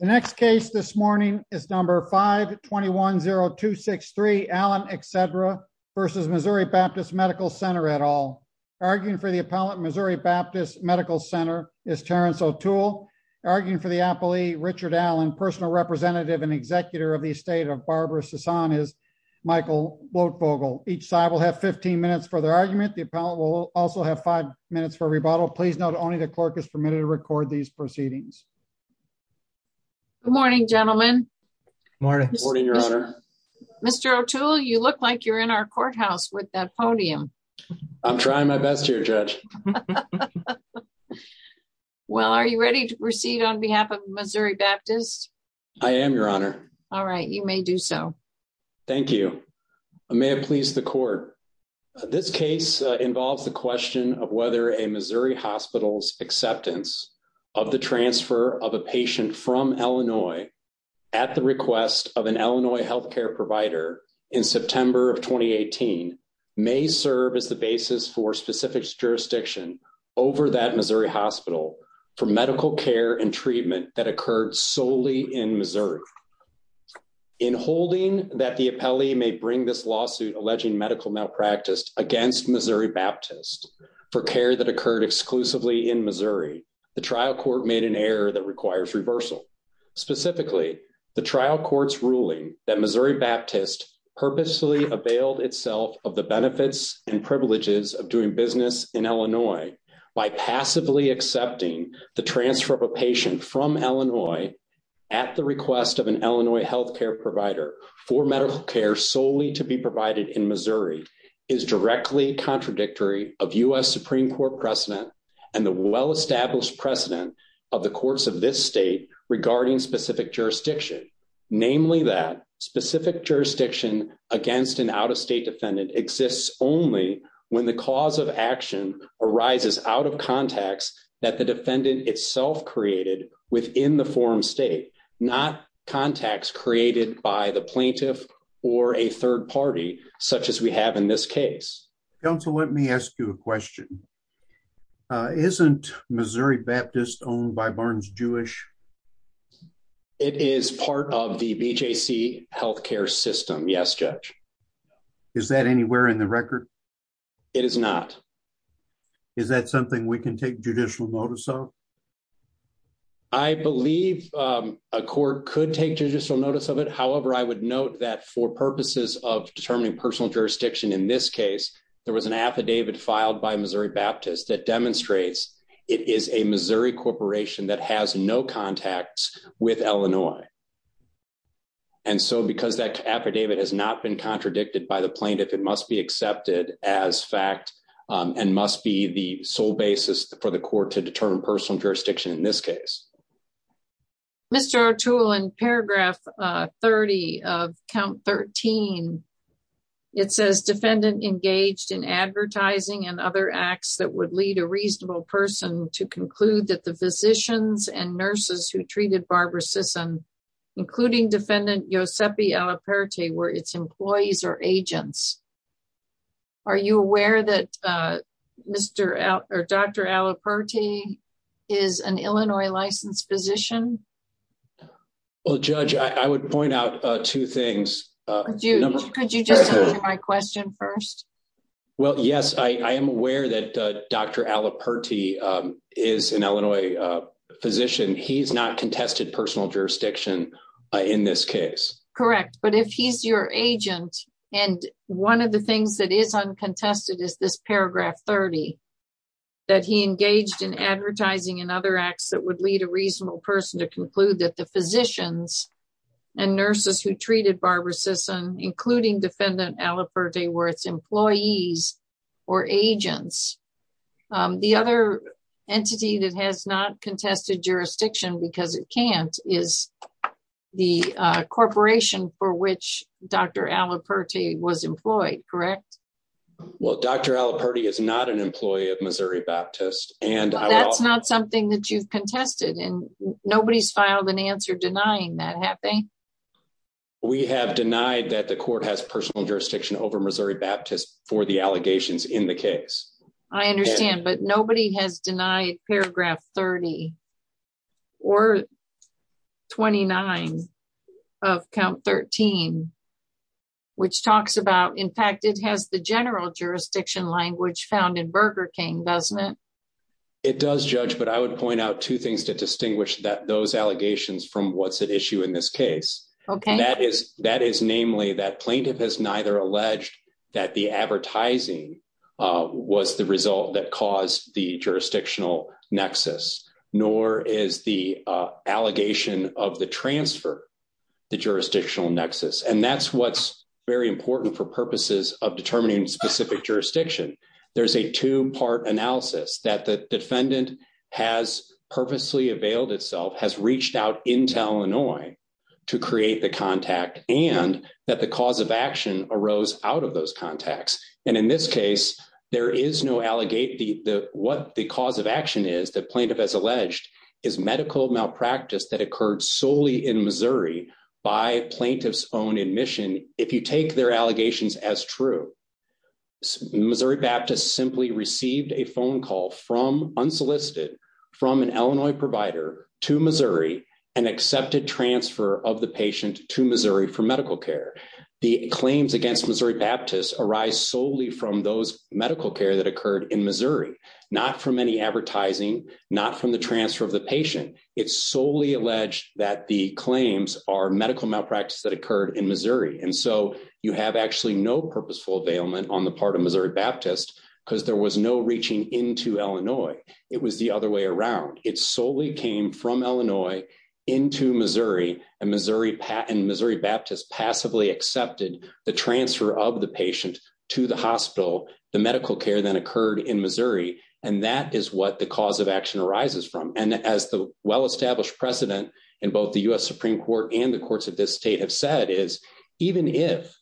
The next case this morning is number 521-0263, Allen, et cetera, versus Missouri Baptist Medical Center, et al. Arguing for the appellant, Missouri Baptist Medical Center is Terrence O'Toole. Arguing for the appellee, Richard Allen, personal representative and executor of the estate of Barbara Sasan is Michael Lotvogel. Each side will have 15 minutes for their argument. The appellant will also have five minutes for rebuttal. Please note only the clerk is permitted to record these proceedings. Good morning, gentlemen. Morning. Morning, Your Honor. Mr. O'Toole, you look like you're in our courthouse with that podium. I'm trying my best here, Judge. Well, are you ready to proceed on behalf of Missouri Baptist? I am, Your Honor. All right, you may do so. Thank you. May it please the court. This case involves the question of whether a Missouri hospital's acceptance of the transfer of a patient from Illinois at the request of an Illinois healthcare provider in September of 2018 may serve as the basis for specific jurisdiction over that Missouri hospital for medical care and treatment that occurred solely in Missouri. In holding that the appellee may bring this lawsuit alleging medical malpractice against Missouri Baptist for care that occurred exclusively in Missouri, the trial court made an error that requires reversal. Specifically, the trial court's ruling that Missouri Baptist purposely availed itself of the benefits and privileges of doing business in Illinois by passively accepting the transfer of a patient from Illinois at the request of an Illinois healthcare provider for medical care solely to be provided in Missouri is directly contradictory of U.S. Supreme Court precedent and the well-established precedent of the courts of this state regarding specific jurisdiction. Namely that specific jurisdiction against an out-of-state defendant exists only when the cause of action arises out of contacts that the defendant itself created within the forum state, not contacts created by the plaintiff or a third party such as we have in this case. Council, let me ask you a question. Isn't Missouri Baptist owned by Barnes-Jewish? It is part of the BJC healthcare system. Yes, Judge. Is that anywhere in the record? It is not. Is that something we can take judicial notice of? I believe a court could take judicial notice of it. However, I would note that for purposes of determining personal jurisdiction in this case, there was an affidavit filed by Missouri Baptist that demonstrates it is a Missouri corporation that has no contacts with Illinois. And so because that affidavit has not been contradicted by the plaintiff, it must be accepted as fact and must be the sole basis for the court to determine personal jurisdiction in this case. Mr. Artul, in paragraph 30 of count 13, it says defendant engaged in advertising and other acts that would lead a reasonable person to conclude that the physicians and nurses who treated Barbara Sisson, including defendant Giuseppe Alaperte were its employees or agents. Are you aware that Dr. Alaperte is an Illinois licensed physician? Well, Judge, I would point out two things. Could you just answer my question first? Well, yes, I am aware that Dr. Alaperte is an Illinois physician. He's not contested personal jurisdiction in this case. Correct, but if he's your agent, and one of the things that is uncontested is this paragraph 30, that he engaged in advertising and other acts that would lead a reasonable person to conclude that the physicians and nurses who treated Barbara Sisson, including defendant Alaperte were its employees or agents. The other entity that has not contested jurisdiction because it can't is the corporation for which Dr. Alaperte was employed, correct? Well, Dr. Alaperte is not an employee of Missouri Baptist. That's not something that you've contested, and nobody's filed an answer denying that, have they? We have denied that the court has personal jurisdiction over Missouri Baptist for the allegations in the case. I understand, but nobody has denied paragraph 30 or 29 of count 13, which talks about, in fact, it has the general jurisdiction language found in Burger King, doesn't it? It does, Judge, but I would point out two things to distinguish those allegations from what's at issue in this case. Okay. That is namely that plaintiff has neither alleged that the advertising was the result that caused the jurisdictional nexus, nor is the allegation of the transfer the jurisdictional nexus. And that's what's very important for purposes of determining specific jurisdiction. There's a two-part analysis that the defendant has purposely availed itself, has reached out into Illinois to create the contact, and that the cause of action arose out of those contacts. And in this case, there is no allegate what the cause of action is that plaintiff has alleged is medical malpractice that occurred solely in Missouri by plaintiff's own admission. If you take their allegations as true, Missouri Baptist simply received a phone call from unsolicited from an Illinois provider to Missouri and accepted transfer of the patient to Missouri for medical care. The claims against Missouri Baptist arise solely from those medical care that occurred in Missouri, not from any advertising, not from the transfer of the patient. It's solely alleged that the claims are medical malpractice that occurred in Missouri. And so you have actually no purposeful availment on the part of Missouri Baptist because there was no reaching into Illinois. It was the other way around. It's solely came from Illinois into Missouri and Missouri Baptist passively accepted the transfer of the patient to the hospital, the medical care then occurred in Missouri. And that is what the cause of action arises from. And as the well-established precedent in both the US Supreme Court and the courts of this state have said is, even if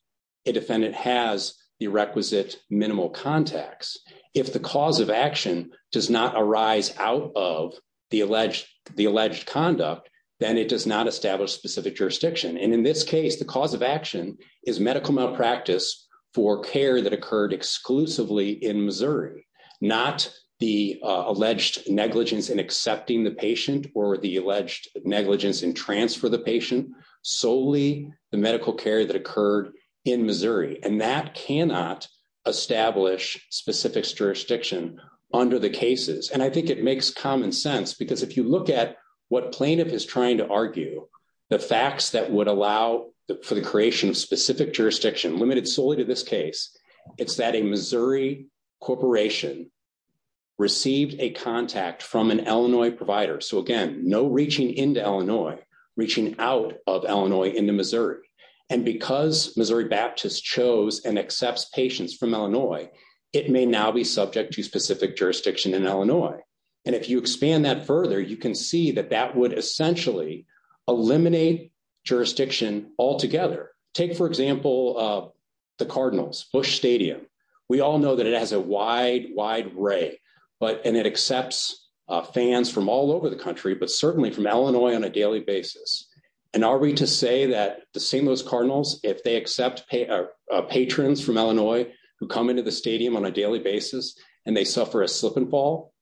a defendant has the requisite minimal contacts, if the cause of action does not arise out of the alleged conduct, then it does not establish specific jurisdiction. And in this case, the cause of action is medical malpractice for care that occurred exclusively in Missouri, not the alleged negligence in accepting the patient or the alleged negligence in transfer the patient, solely the medical care that occurred in Missouri. And that cannot establish specific jurisdiction under the cases. And I think it makes common sense because if you look at what plaintiff is trying to argue, the facts that would allow for the creation of specific jurisdiction limited solely to this case, it's that a Missouri corporation received a contact from an Illinois provider. So again, no reaching into Illinois, reaching out of Illinois into Missouri. And because Missouri Baptist chose and accepts patients from Illinois, it may now be subject to specific jurisdiction in Illinois. And if you expand that further, you can see that that would essentially eliminate jurisdiction altogether. Take for example, the Cardinals, Bush Stadium. We all know that it has a wide, wide ray, and it accepts fans from all over the country, but certainly from Illinois on a daily basis. And are we to say that the St. Louis Cardinals, if they accept patrons from Illinois who come into the stadium on a daily basis and they suffer a slip and fall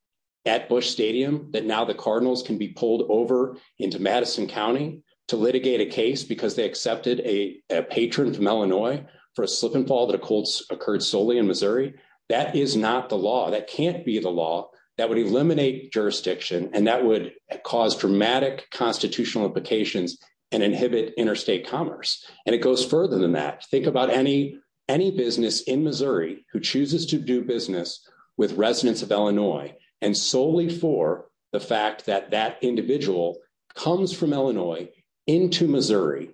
at Bush Stadium, that now the Cardinals can be pulled over into Madison County to litigate a case because they accepted a patron from Illinois for a slip and fall that occurred solely in Missouri? That is not the law, that can't be the law that would eliminate jurisdiction and that would cause dramatic constitutional implications and inhibit interstate commerce. And it goes further than that. Think about any business in Missouri and solely for the fact that that individual comes from Illinois into Missouri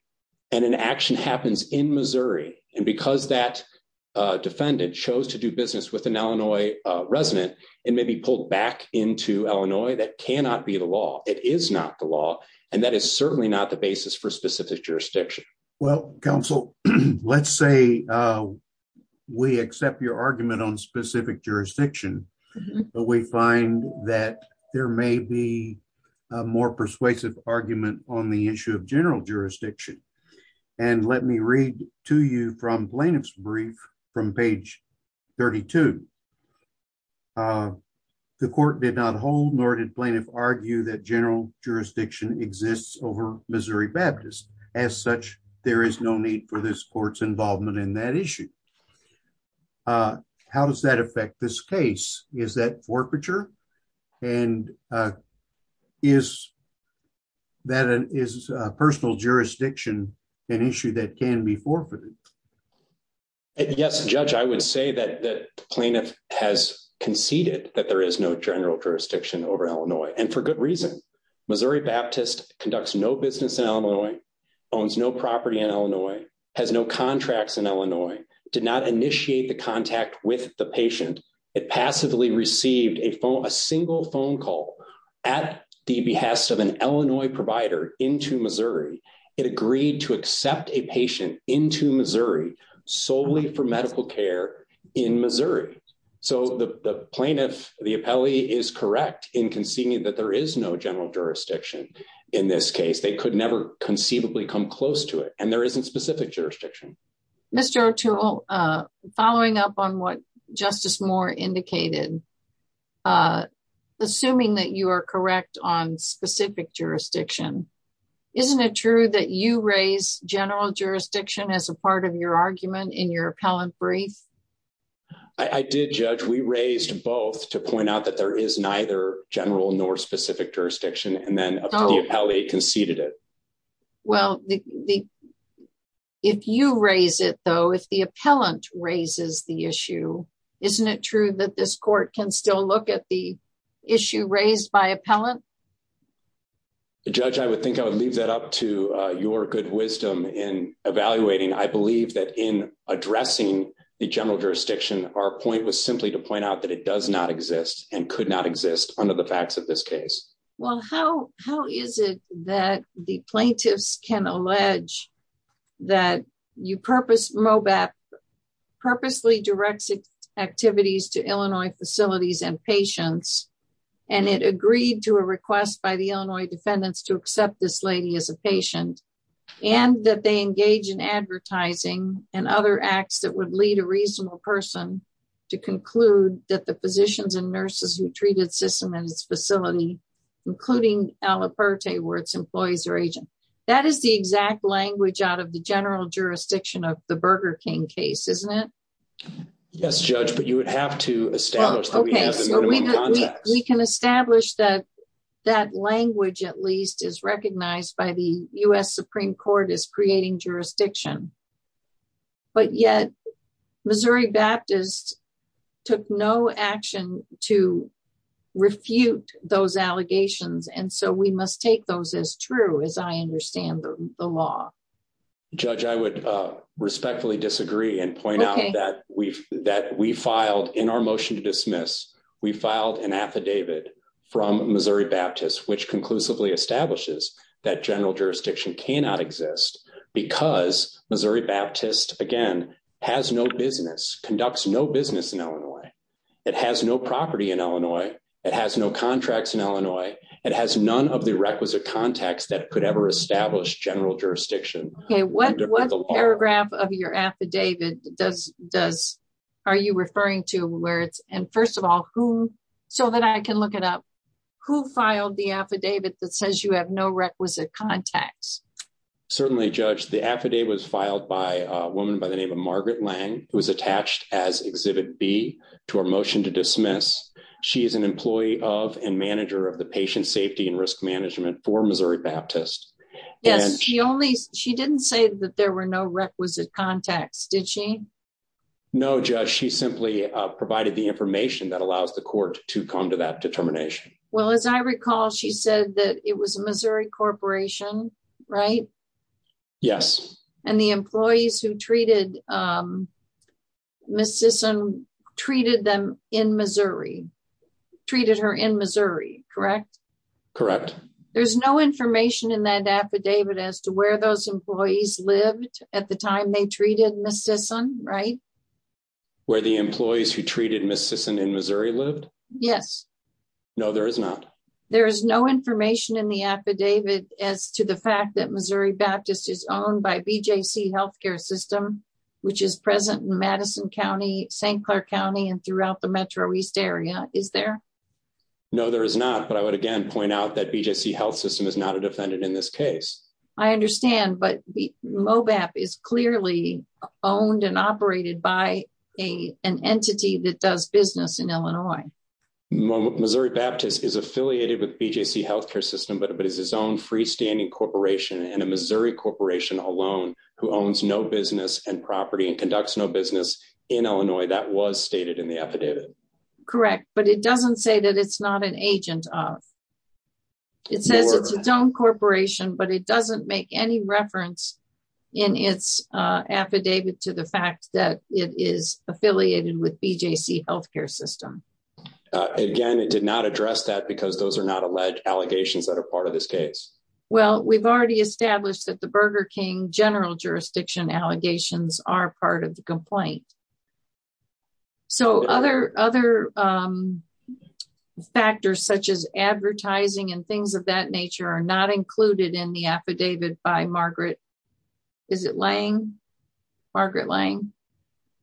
and an action happens in Missouri. And because that defendant chose to do business with an Illinois resident, it may be pulled back into Illinois. That cannot be the law. It is not the law. And that is certainly not the basis for specific jurisdiction. Well, counsel, let's say we accept your argument on specific jurisdiction, but we find that there may be a more persuasive argument on the issue of general jurisdiction. And let me read to you from plaintiff's brief from page 32. The court did not hold nor did plaintiff argue that general jurisdiction exists over Missouri Baptist. As such, there is no need for this court's involvement in that issue. How does that affect this case? Is that forfeiture? And is personal jurisdiction an issue that can be forfeited? Yes, Judge, I would say that the plaintiff has conceded that there is no general jurisdiction over Illinois. And for good reason. Missouri Baptist conducts no business in Illinois, owns no property in Illinois, has no contracts in Illinois. Did not initiate the contact with the patient. It passively received a single phone call at the behest of an Illinois provider into Missouri. It agreed to accept a patient into Missouri solely for medical care in Missouri. So the plaintiff, the appellee is correct in conceding that there is no general jurisdiction in this case. They could never conceivably come close to it. And there isn't specific jurisdiction. Mr. O'Toole, following up on what Justice Moore indicated, assuming that you are correct on specific jurisdiction, isn't it true that you raise general jurisdiction as a part of your argument in your appellant brief? I did, Judge. We raised both to point out that there is neither general nor specific jurisdiction. And then the appellee conceded it. Well, if you raise it though, if the appellant raises the issue, isn't it true that this court can still look at the issue raised by appellant? Judge, I would think I would leave that up to your good wisdom in evaluating. I believe that in addressing the general jurisdiction, our point was simply to point out that it does not exist and could not exist under the facts of this case. Well, how is it that the plaintiffs can allege that MOBAP purposely directs activities to Illinois facilities and patients, and it agreed to a request by the Illinois defendants to accept this lady as a patient, and that they engage in advertising and other acts that the physicians and nurses who treated Sissom in its facility, including Alaperte where its employees are aging. That is the exact language out of the general jurisdiction of the Burger King case, isn't it? Yes, Judge, but you would have to establish that we have the minimum context. We can establish that that language at least is recognized by the U.S. Supreme Court as creating jurisdiction. But yet Missouri Baptist took no action to refute those allegations. And so we must take those as true as I understand the law. Judge, I would respectfully disagree and point out that we filed in our motion to dismiss, we filed an affidavit from Missouri Baptist, which conclusively establishes that general jurisdiction cannot exist because Missouri Baptist, again, has no business, conducts no business in Illinois. It has no property in Illinois. It has no contracts in Illinois. It has none of the requisite context that could ever establish general jurisdiction. Okay, what paragraph of your affidavit are you referring to where it's, and first of all, who, so that I can look it up, who filed the affidavit that says you have no requisite contacts? Certainly, Judge, the affidavit was filed by a woman by the name of Margaret Lang, who was attached as Exhibit B to our motion to dismiss. She is an employee of and manager of the Patient Safety and Risk Management for Missouri Baptist. Yes, she only, she didn't say that there were no requisite contacts, did she? No, Judge, she simply provided the information that allows the court to come to that determination. Well, as I recall, she said that it was a Missouri corporation, right? Yes. And the employees who treated Ms. Sisson treated them in Missouri, treated her in Missouri, correct? Correct. There's no information in that affidavit as to where those employees lived at the time they treated Ms. Sisson, right? Where the employees who treated Ms. Sisson in Missouri lived? Yes. No, there is not. There is no information in the affidavit as to the fact that Missouri Baptist is owned by BJC Healthcare System, which is present in Madison County, St. Clair County, and throughout the Metro East area, is there? No, there is not. But I would again point out that BJC Health System is not a defendant in this case. I understand, but MoBAP is clearly owned and operated by an entity that does business in Illinois. Missouri Baptist is affiliated with BJC Healthcare System, but is its own freestanding corporation and a Missouri corporation alone who owns no business and property and conducts no business in Illinois. That was stated in the affidavit. Correct, but it doesn't say that it's not an agent of. It says it's its own corporation, but it doesn't make any reference in its affidavit to the fact that it is affiliated with BJC Healthcare System. Again, it did not address that because those are not alleged allegations that are part of this case. Well, we've already established that the Burger King general jurisdiction allegations are part of the complaint. So other factors such as advertising and things of that nature are not included in the affidavit by Margaret, is it Lange? Margaret Lange?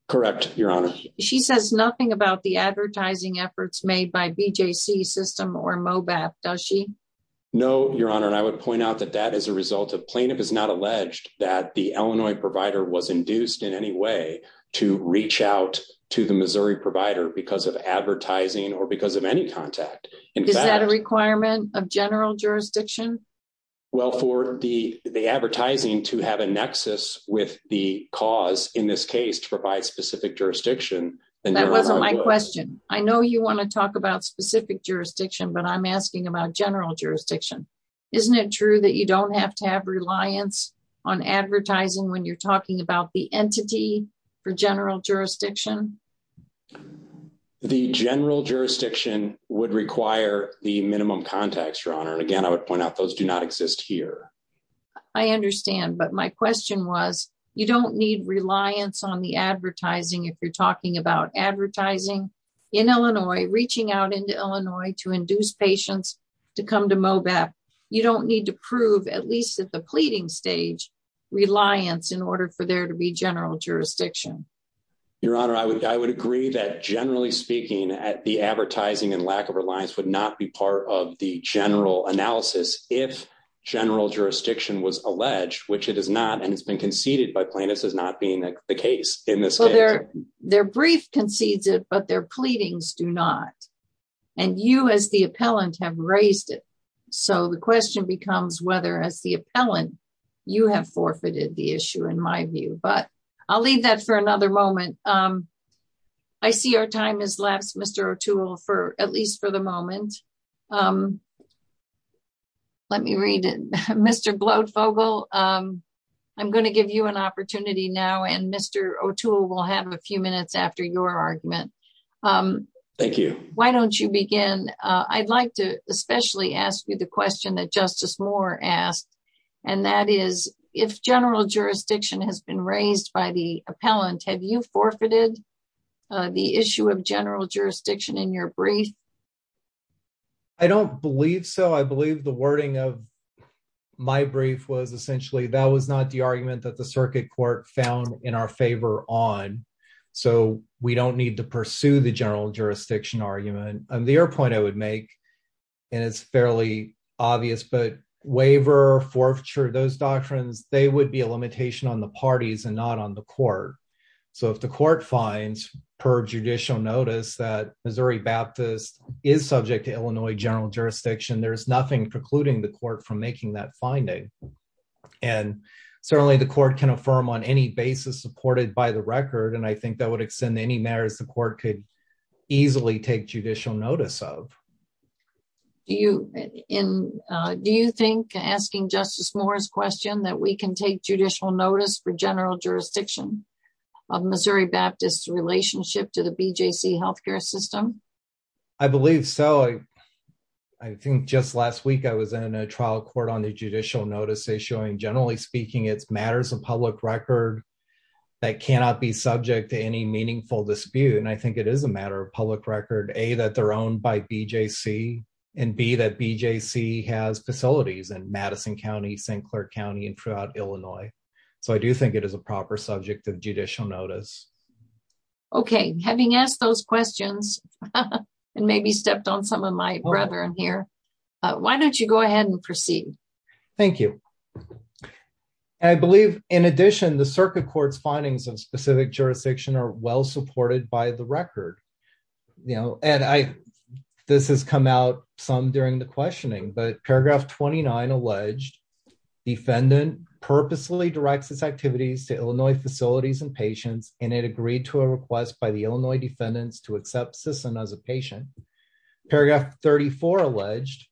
Correct, Your Honor. She says nothing about the advertising efforts made by BJC System or MoBAP, does she? No, Your Honor, and I would point out that that is a result of plaintiff is not alleged that the Illinois provider was induced in any way to reach out to the Missouri provider because of advertising or because of any contact. Is that a requirement of general jurisdiction? Well, for the advertising to have a nexus with the cause in this case to provide specific jurisdiction- That wasn't my question. I know you wanna talk about specific jurisdiction, but I'm asking about general jurisdiction. Isn't it true that you don't have to have reliance on advertising when you're talking about the entity for general jurisdiction? The general jurisdiction would require the minimum contacts, Your Honor. And again, I would point out those do not exist here. I understand, but my question was, you don't need reliance on the advertising if you're talking about advertising in Illinois, reaching out into Illinois to induce patients to come to MoBeP. You don't need to prove, at least at the pleading stage, reliance in order for there to be general jurisdiction. Your Honor, I would agree that generally speaking, the advertising and lack of reliance would not be part of the general analysis if general jurisdiction was alleged, which it is not, and it's been conceded by plaintiffs as not being the case in this case. Their brief concedes it, but their pleadings do not. And you, as the appellant, have raised it. So the question becomes whether, as the appellant, you have forfeited the issue, in my view. But I'll leave that for another moment. I see our time has lapsed, Mr. O'Toole, at least for the moment. Let me read it. Mr. Bloedvogel, I'm gonna give you an opportunity now, and Mr. O'Toole will have a few minutes after your argument. Thank you. Why don't you begin? I'd like to especially ask you the question that Justice Moore asked, and that is, if general jurisdiction has been raised by the appellant, have you forfeited the issue of general jurisdiction in your brief? I don't believe so. I believe the wording of my brief was essentially that was not the argument that the Circuit Court found in our favor on. So we don't need to pursue the general jurisdiction argument. And the other point I would make, and it's fairly obvious, but waiver, forfeiture, those doctrines, they would be a limitation on the parties and not on the court. So if the court finds, per judicial notice, that Missouri Baptist is subject to Illinois general jurisdiction, there's nothing precluding the court from making that finding. And certainly the court can affirm on any basis supported by the record, and I think that would extend to any matters the court could easily take judicial notice of. Do you think, asking Justice Moore's question, that we can take judicial notice for general jurisdiction of Missouri Baptist's relationship to the BJC healthcare system? I believe so. I think just last week I was in a trial court on the judicial notice issuing. Generally speaking, it's matters of public record that cannot be subject to any meaningful dispute. And I think it is a matter of public record, A, that they're owned by BJC, and B, that BJC has facilities in Madison County, St. Clair County, and throughout Illinois. So I do think it is a proper subject of judicial notice. Okay, having asked those questions, and maybe stepped on some of my brethren here, why don't you go ahead and proceed? Thank you. I believe, in addition, the circuit court's findings of specific jurisdiction are well-supported by the record. And this has come out some during the questioning, but paragraph 29 alleged, defendant purposely directs its activities to Illinois facilities and patients, and it agreed to a request by the Illinois defendants to accept Sisson as a patient. Paragraph 34 alleged,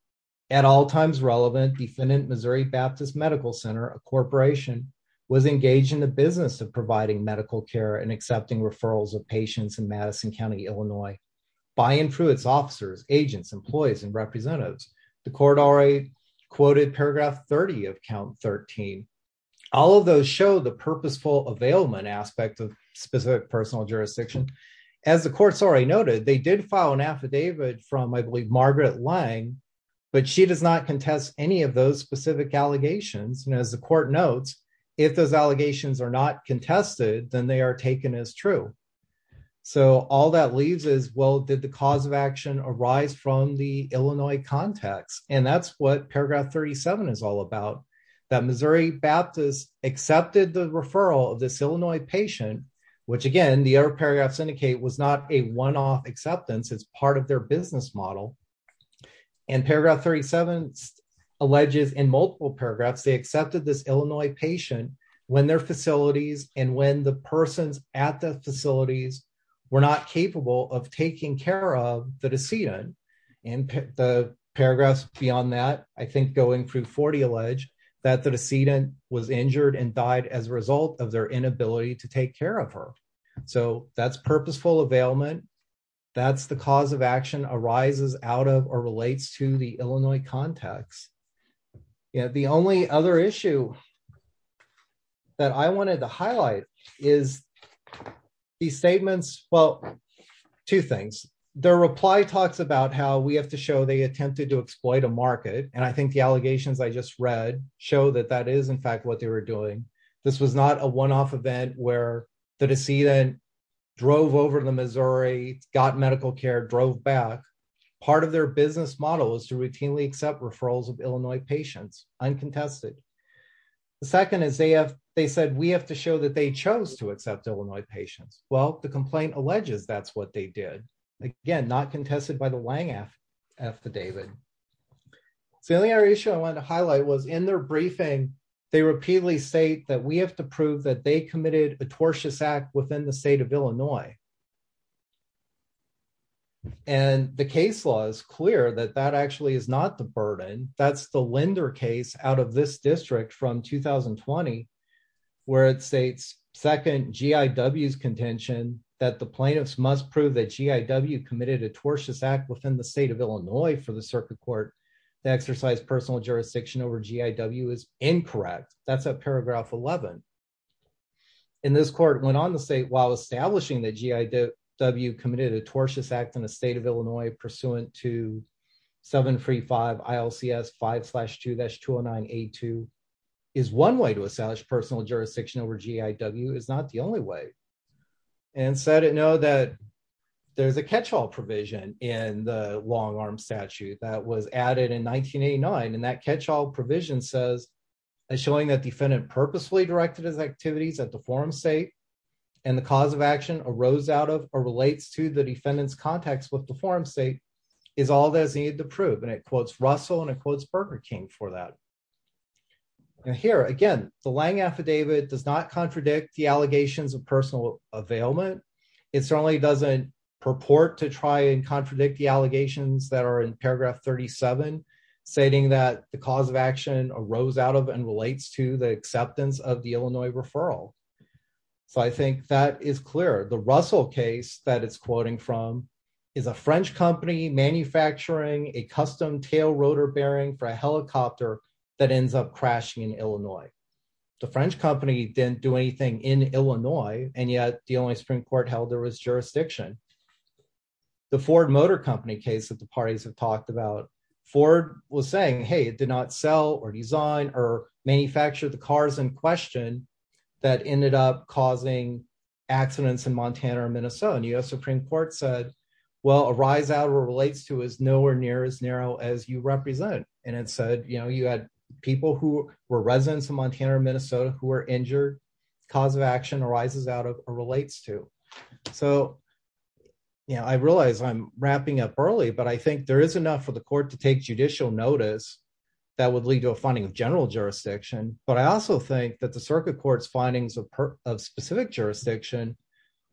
at all times relevant, defendant Missouri Baptist Medical Center, a corporation, was engaged in the business of providing medical care and accepting referrals of patients in Madison County, Illinois, by and through its officers, agents, employees, and representatives. The court already quoted paragraph 30 of count 13. All of those show the purposeful availment aspect of specific personal jurisdiction. As the courts already noted, they did file an affidavit from, I believe, Margaret Lange, but she does not contest any of those specific allegations. And as the court notes, if those allegations are not contested, then they are taken as true. So all that leaves is, well, did the cause of action arise from the Illinois context? And that's what paragraph 37 is all about, that Missouri Baptist accepted the referral of this Illinois patient, which again, the other paragraphs indicate, was not a one-off acceptance. It's part of their business model. And paragraph 37 alleges in multiple paragraphs, they accepted this Illinois patient when their facilities and when the persons at the facilities were not capable of taking care of the decedent. And the paragraphs beyond that, I think going through 40, allege that the decedent was injured and died as a result of their inability to take care of her. So that's purposeful availment. That's the cause of action arises out of or relates to the Illinois context. Yeah, the only other issue that I wanted to highlight is these statements, well, two things. The reply talks about how we have to show they attempted to exploit a market. And I think the allegations I just read show that that is in fact what they were doing. This was not a one-off event where the decedent drove over to the Missouri, got medical care, drove back. Part of their business model is to routinely accept referrals of Illinois patients, uncontested. The second is they said, we have to show that they chose to accept Illinois patients. Well, the complaint alleges that's what they did. Again, not contested by the Wang affidavit. So the only other issue I wanted to highlight was in their briefing, they repeatedly state that we have to prove that they committed a tortious act within the state of Illinois. And the case law is clear that that actually is not the burden. That's the lender case out of this district from 2020, where it states second G.I.W.'s contention that the plaintiffs must prove that G.I.W. committed a tortious act within the state of Illinois for the circuit court. The exercise personal jurisdiction over G.I.W. is incorrect. That's at paragraph 11. And this court went on to say, while establishing that G.I.W. committed a tortious act in the state of Illinois pursuant to 735 ILCS 5-2-209A2 is one way to establish personal jurisdiction over G.I.W. is not the only way. And said, no, that there's a catch-all provision in the long arm statute that was added in 1989. And that catch-all provision says, and showing that defendant purposefully directed his activities at the forum state and the cause of action arose out of or relates to the defendant's contacts with the forum state is all that is needed to prove. And it quotes Russell and it quotes Burger King for that. And here again, the Lange affidavit does not contradict the allegations of personal availment. It certainly doesn't purport to try and contradict the allegations that are in paragraph 37, stating that the cause of action arose out of and relates to the acceptance of the Illinois referral. So I think that is clear. The Russell case that it's quoting from is a French company manufacturing a custom tail rotor bearing for a helicopter that ends up crashing in Illinois. The French company didn't do anything in Illinois and yet the only Supreme Court held there was jurisdiction. The Ford Motor Company case that the parties have talked about, Ford was saying, hey, it did not sell or design or manufacture the cars in question that ended up causing accidents in Montana or Minnesota. And US Supreme Court said, well, arise out or relates to is nowhere near as narrow as you represent. And it said, you had people who were residents of Montana or Minnesota who were injured, cause of action arises out of or relates to. So, yeah, I realize I'm wrapping up early but I think there is enough for the court to take judicial notice that would lead to a finding of general jurisdiction. But I also think that the circuit court's findings of specific jurisdiction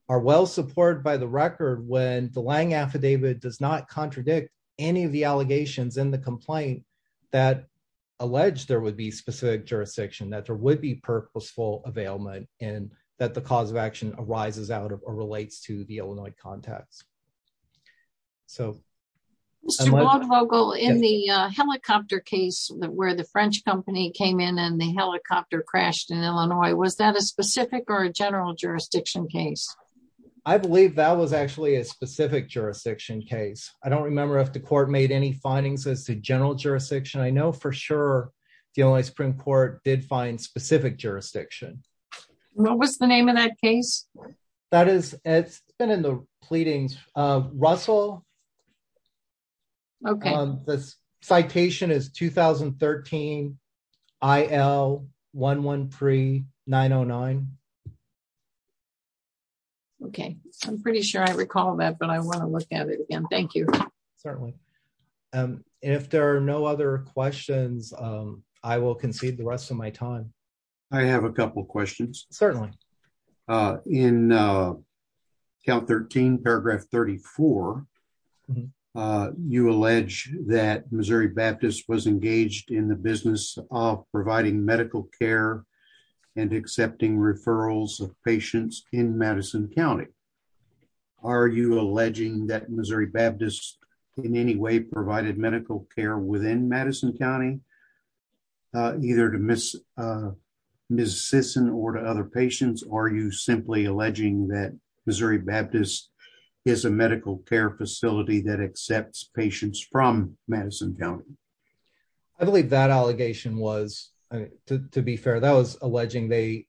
are well-supported by the record when the Lange affidavit does not contradict any of the allegations in the complaint that alleged there would be specific jurisdiction, that there would be purposeful availment and that the cause of action arises out of or relates to the Illinois context. So- Mr. Waldvogel, in the helicopter case where the French company came in and the helicopter crashed in Illinois, was that a specific or a general jurisdiction case? I believe that was actually a specific jurisdiction case. I don't remember if the court made any findings as to general jurisdiction. I know for sure the Illinois Supreme Court did find specific jurisdiction. What was the name of that case? That is, it's been in the pleadings. Russell. Okay. The citation is 2013 IL113-909. Okay. I'm pretty sure I recall that, but I wanna look at it again. Thank you. Certainly. If there are no other questions, I will concede the rest of my time. I have a couple of questions. Certainly. In count 13, paragraph 34, you allege that Missouri Baptist was engaged in the business of providing medical care and accepting referrals of patients in Madison County. Are you alleging that Missouri Baptist in any way provided medical care within Madison County, either to Ms. Sisson or to other patients, or are you simply alleging that Missouri Baptist is a medical care facility that accepts patients from Madison County? I believe that allegation was, to be fair, that was alleging they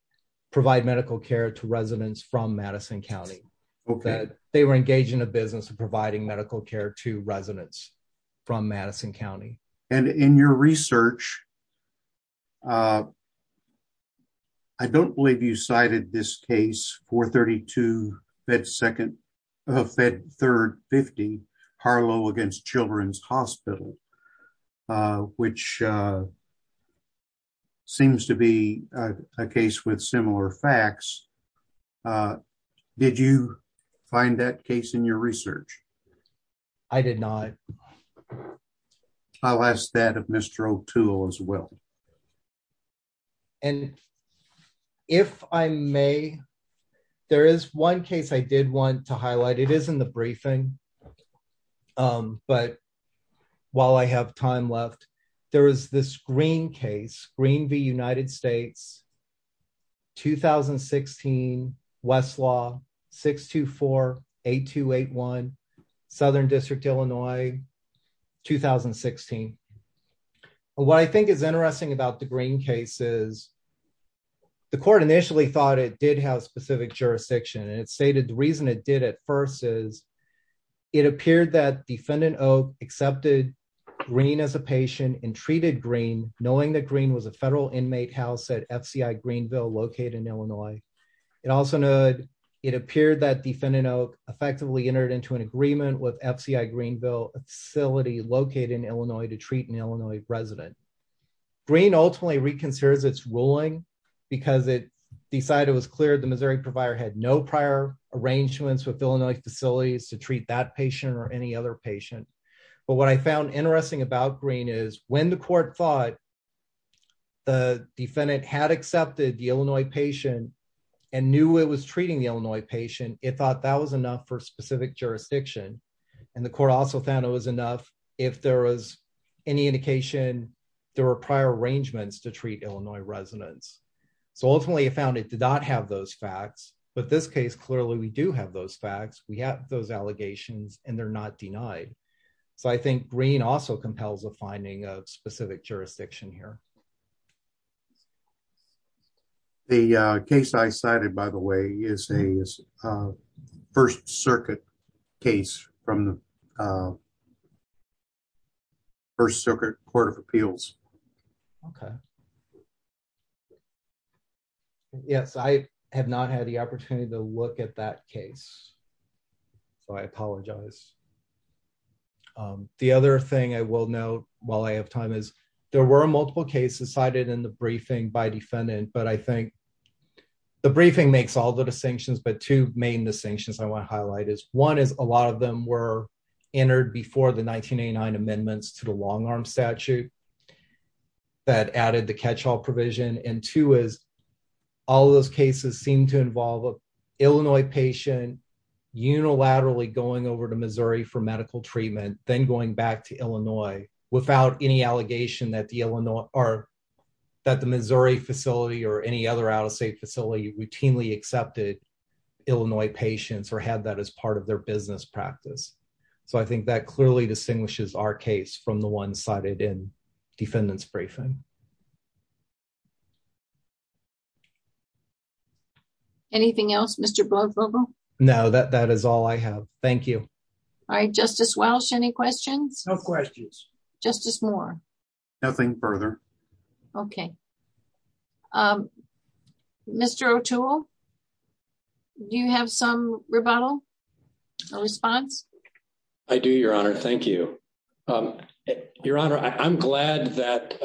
provide medical care to residents from Madison County. Okay. They were engaged in a business of providing medical care to residents from Madison County. And in your research, I don't believe you cited this case, 432-Fed-3-50, Harlow against Children's Hospital, which seems to be a case with similar facts. Did you find that case in your research? I did not. I'll ask that of Mr. O'Toole as well. And if I may, there is one case I did want to highlight. It is in the briefing, but while I have time left, there is this Green case, Green v. United States, 2016, Westlaw, 624-8281, Southern District, Illinois, 2016. What I think is interesting about the Green case is the court initially thought it did have specific jurisdiction, and it stated the reason it did at first is it appeared that defendant Oak accepted Green as a patient and treated Green, knowing that Green was a federal inmate house at FCI Greenville, located in Illinois. It also noted it appeared that defendant Oak effectively entered into an agreement with FCI Greenville, a facility located in Illinois to treat an Illinois resident. Green ultimately reconsidered its ruling because it decided it was clear the Missouri provider had no prior arrangements with Illinois facilities to treat that patient or any other patient. But what I found interesting about Green is when the court thought the defendant had accepted the Illinois patient and knew it was treating the Illinois patient, it thought that was enough for specific jurisdiction. And the court also found it was enough if there was any indication there were prior arrangements to treat Illinois residents. So ultimately it found it did not have those facts, but this case, clearly we do have those facts. We have those allegations and they're not denied. So I think Green also compels a finding of specific jurisdiction here. The case I cited by the way is a First Circuit case from the First Circuit Court of Appeals. Okay. Yes, I have not had the opportunity to look at that case. So I apologize. The other thing I will note while I have time is there were multiple cases cited in the briefing by defendant. But I think the briefing makes all the distinctions but two main distinctions I wanna highlight is one is a lot of them were entered before the 1989 amendments to the long arm statute that added the catch-all provision. And two is all of those cases seem to involve a Illinois patient unilaterally going over to Missouri for medical treatment, then going back to Illinois without any allegation that the Illinois or that the Missouri facility or any other out-of-state facility routinely accepted Illinois patients or had that as part of their business practice. So I think that clearly distinguishes our case from the one cited in defendant's briefing. Anything else, Mr. Blodvogel? No, that is all I have. Thank you. All right, Justice Welch, any questions? No questions. Justice Moore? Nothing further. Okay. Mr. O'Toole, do you have some rebuttal or response? I do, Your Honor, thank you. Your Honor, I'm glad that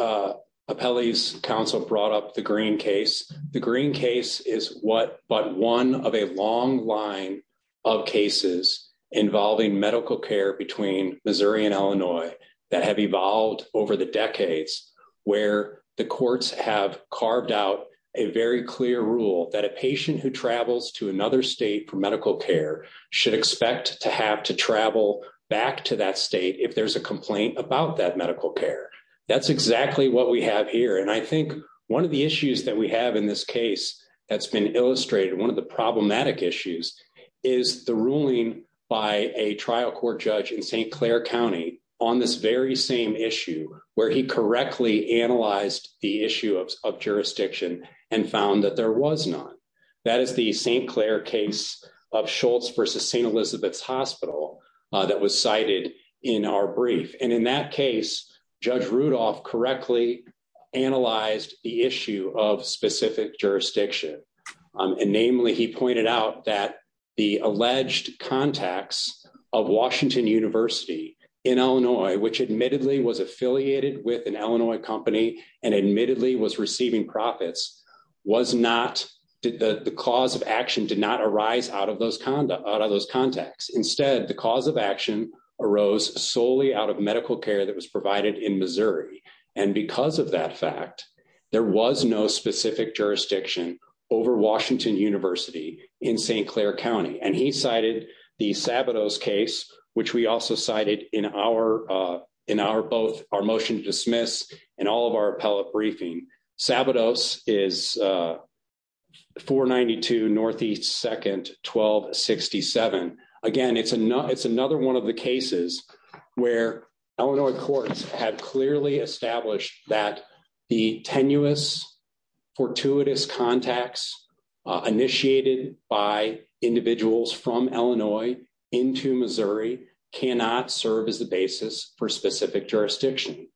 Appellee's Council brought up the Green case. The Green case is what but one of a long line of cases involving medical care between Missouri and Illinois that have evolved over the decades where the courts have carved out a very clear rule that a patient who travels to another state for medical care should expect to have to travel back to that state if there's a complaint about that medical care. That's exactly what we have here. And I think one of the issues that we have in this case that's been illustrated, one of the problematic issues is the ruling by a trial court judge in St. Clair County on this very same issue where he correctly analyzed the issue of jurisdiction and found that there was none. That is the St. Clair case of Schultz versus St. Elizabeth's Hospital that was cited in our brief. And in that case, Judge Rudolph correctly analyzed the issue of specific jurisdiction. And namely, he pointed out that the alleged contacts of Washington University in Illinois, which admittedly was affiliated with an Illinois company and admittedly was receiving profits, the cause of action did not arise out of those contacts. Instead, the cause of action arose solely out of medical care that was provided in Missouri. And because of that fact, there was no specific jurisdiction over Washington University in St. Clair County. And he cited the Sabados case, which we also cited in both our motion to dismiss and all of our appellate briefing. Sabados is 492 Northeast 2nd, 1267. Again, it's another one of the cases where Illinois courts have clearly established that the tenuous fortuitous contacts initiated by individuals from Illinois into Missouri cannot serve as the basis for specific jurisdiction.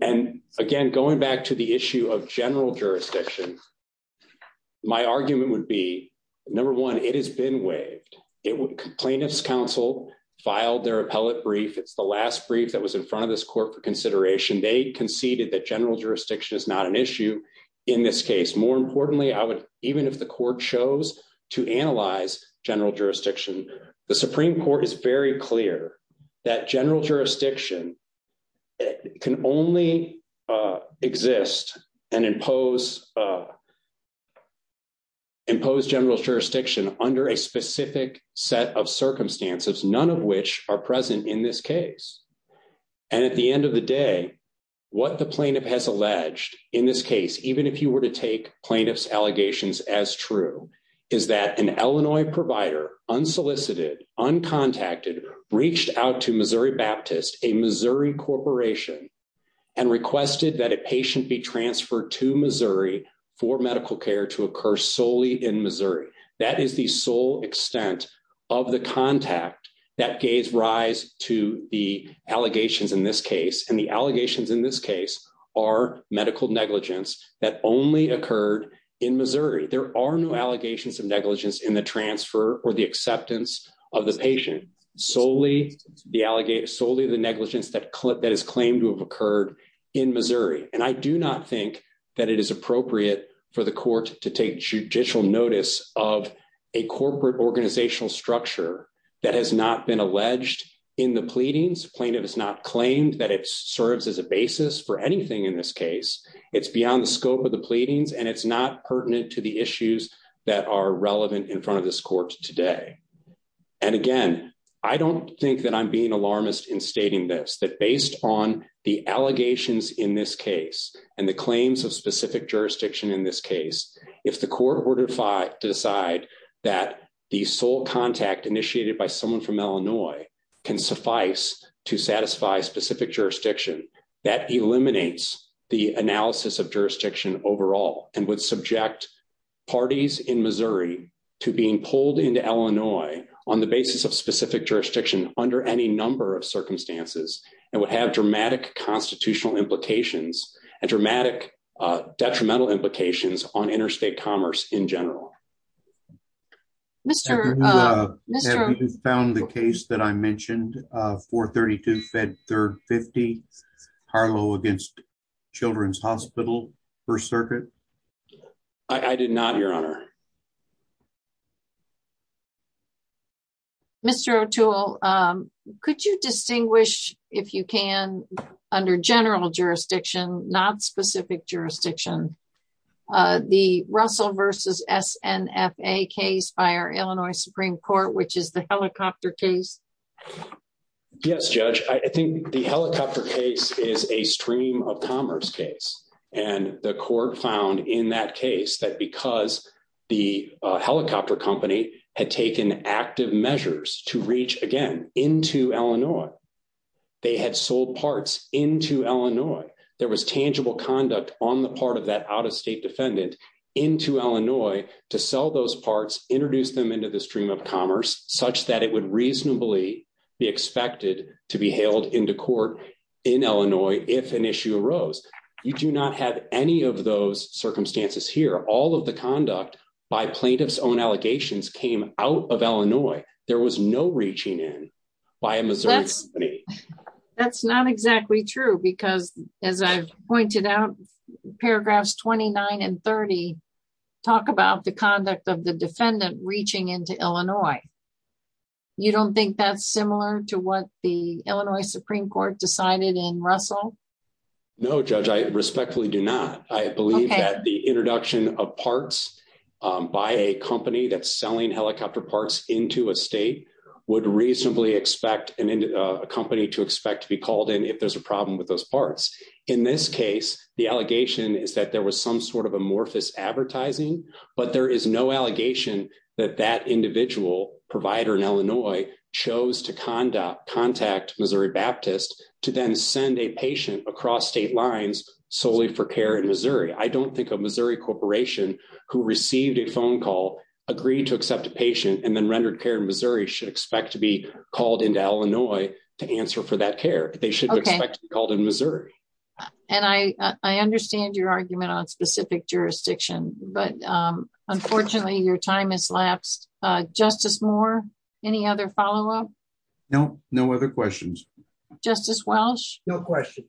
And again, going back to the issue of general jurisdiction, my argument would be, number one, it has been waived. Plaintiff's counsel filed their appellate brief. It's the last brief that was in front of this court for consideration. They conceded that general jurisdiction is not an issue in this case. More importantly, even if the court chose to analyze general jurisdiction, the Supreme Court is very clear that general jurisdiction can only exist and impose general jurisdiction under a specific set of circumstances, none of which are present in this case. And at the end of the day, what the plaintiff has alleged in this case, even if you were to take plaintiff's allegations as true, is that an Illinois provider, unsolicited, uncontacted, reached out to Missouri Baptist, a Missouri corporation, and requested that a patient be transferred to Missouri for medical care to occur solely in Missouri. That is the sole extent of the contact that gave rise to the allegations in this case. And the allegations in this case are medical negligence that only occurred in Missouri. There are no allegations of negligence in the transfer or the acceptance of the patient, solely the negligence that is claimed to have occurred in Missouri. And I do not think that it is appropriate for the court to take judicial notice of a corporate organizational structure that has not been alleged in the pleadings. Plaintiff has not claimed that it serves as a basis for anything in this case. It's beyond the scope of the pleadings and it's not pertinent to the issues that are relevant in front of this court today. And again, I don't think that I'm being alarmist in stating this, that based on the allegations in this case and the claims of specific jurisdiction in this case, if the court were to decide that the sole contact initiated by someone from Illinois can suffice to satisfy specific jurisdiction, that eliminates the analysis of jurisdiction overall and would subject parties in Missouri to being pulled into Illinois on the basis of specific jurisdiction under any number of circumstances and would have dramatic constitutional implications and dramatic detrimental implications on interstate commerce in general. Mr. Mr. Have you found the case that I mentioned, 432 Fed 350 Harlow against Children's Hospital, First Circuit? I did not, your honor. Mr. O'Toole, could you distinguish if you can under general jurisdiction, not specific jurisdiction, the Russell versus SNFA case by our Illinois Supreme Court, which is the helicopter case? Yes, judge. I think the helicopter case is a stream of commerce case. And the court found in that case that because the helicopter company had taken active measures to reach again into Illinois, they had sold parts into Illinois. There was tangible conduct on the part of that out-of-state defendant into Illinois to sell those parts, introduce them into the stream of commerce such that it would reasonably be expected to be hailed into court in Illinois if an issue arose. You do not have any of those circumstances here. All of the conduct by plaintiff's own allegations came out of Illinois. There was no reaching in by a Missouri- That's not exactly true because as I've pointed out, paragraphs 29 and 30 talk about the conduct of the defendant reaching into Illinois. You don't think that's similar to what the Illinois Supreme Court decided in Russell? No, judge, I respectfully do not. I believe that the introduction of parts by a company that's selling helicopter parts into a state would reasonably expect a company to expect to be called in if there's a problem with those parts. In this case, the allegation is that there was some sort of amorphous advertising, but there is no allegation that that individual provider in Illinois chose to contact Missouri Baptist to then send a patient across state lines solely for care in Missouri. I don't think a Missouri corporation who received a phone call, agreed to accept a patient, and then rendered care in Missouri should expect to be called into Illinois to answer for that care. They should expect to be called in Missouri. And I understand your argument on specific jurisdiction, but unfortunately your time has lapsed. Justice Moore, any other follow-up? No, no other questions. Justice Welch? No questions.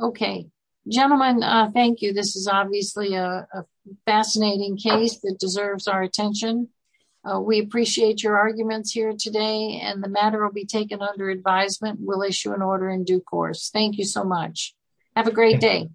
Okay, gentlemen, thank you. This is obviously a fascinating case that deserves our attention. We appreciate your arguments here today, and the matter will be taken under advisement. We'll issue an order in due course. Thank you so much. Have a great day.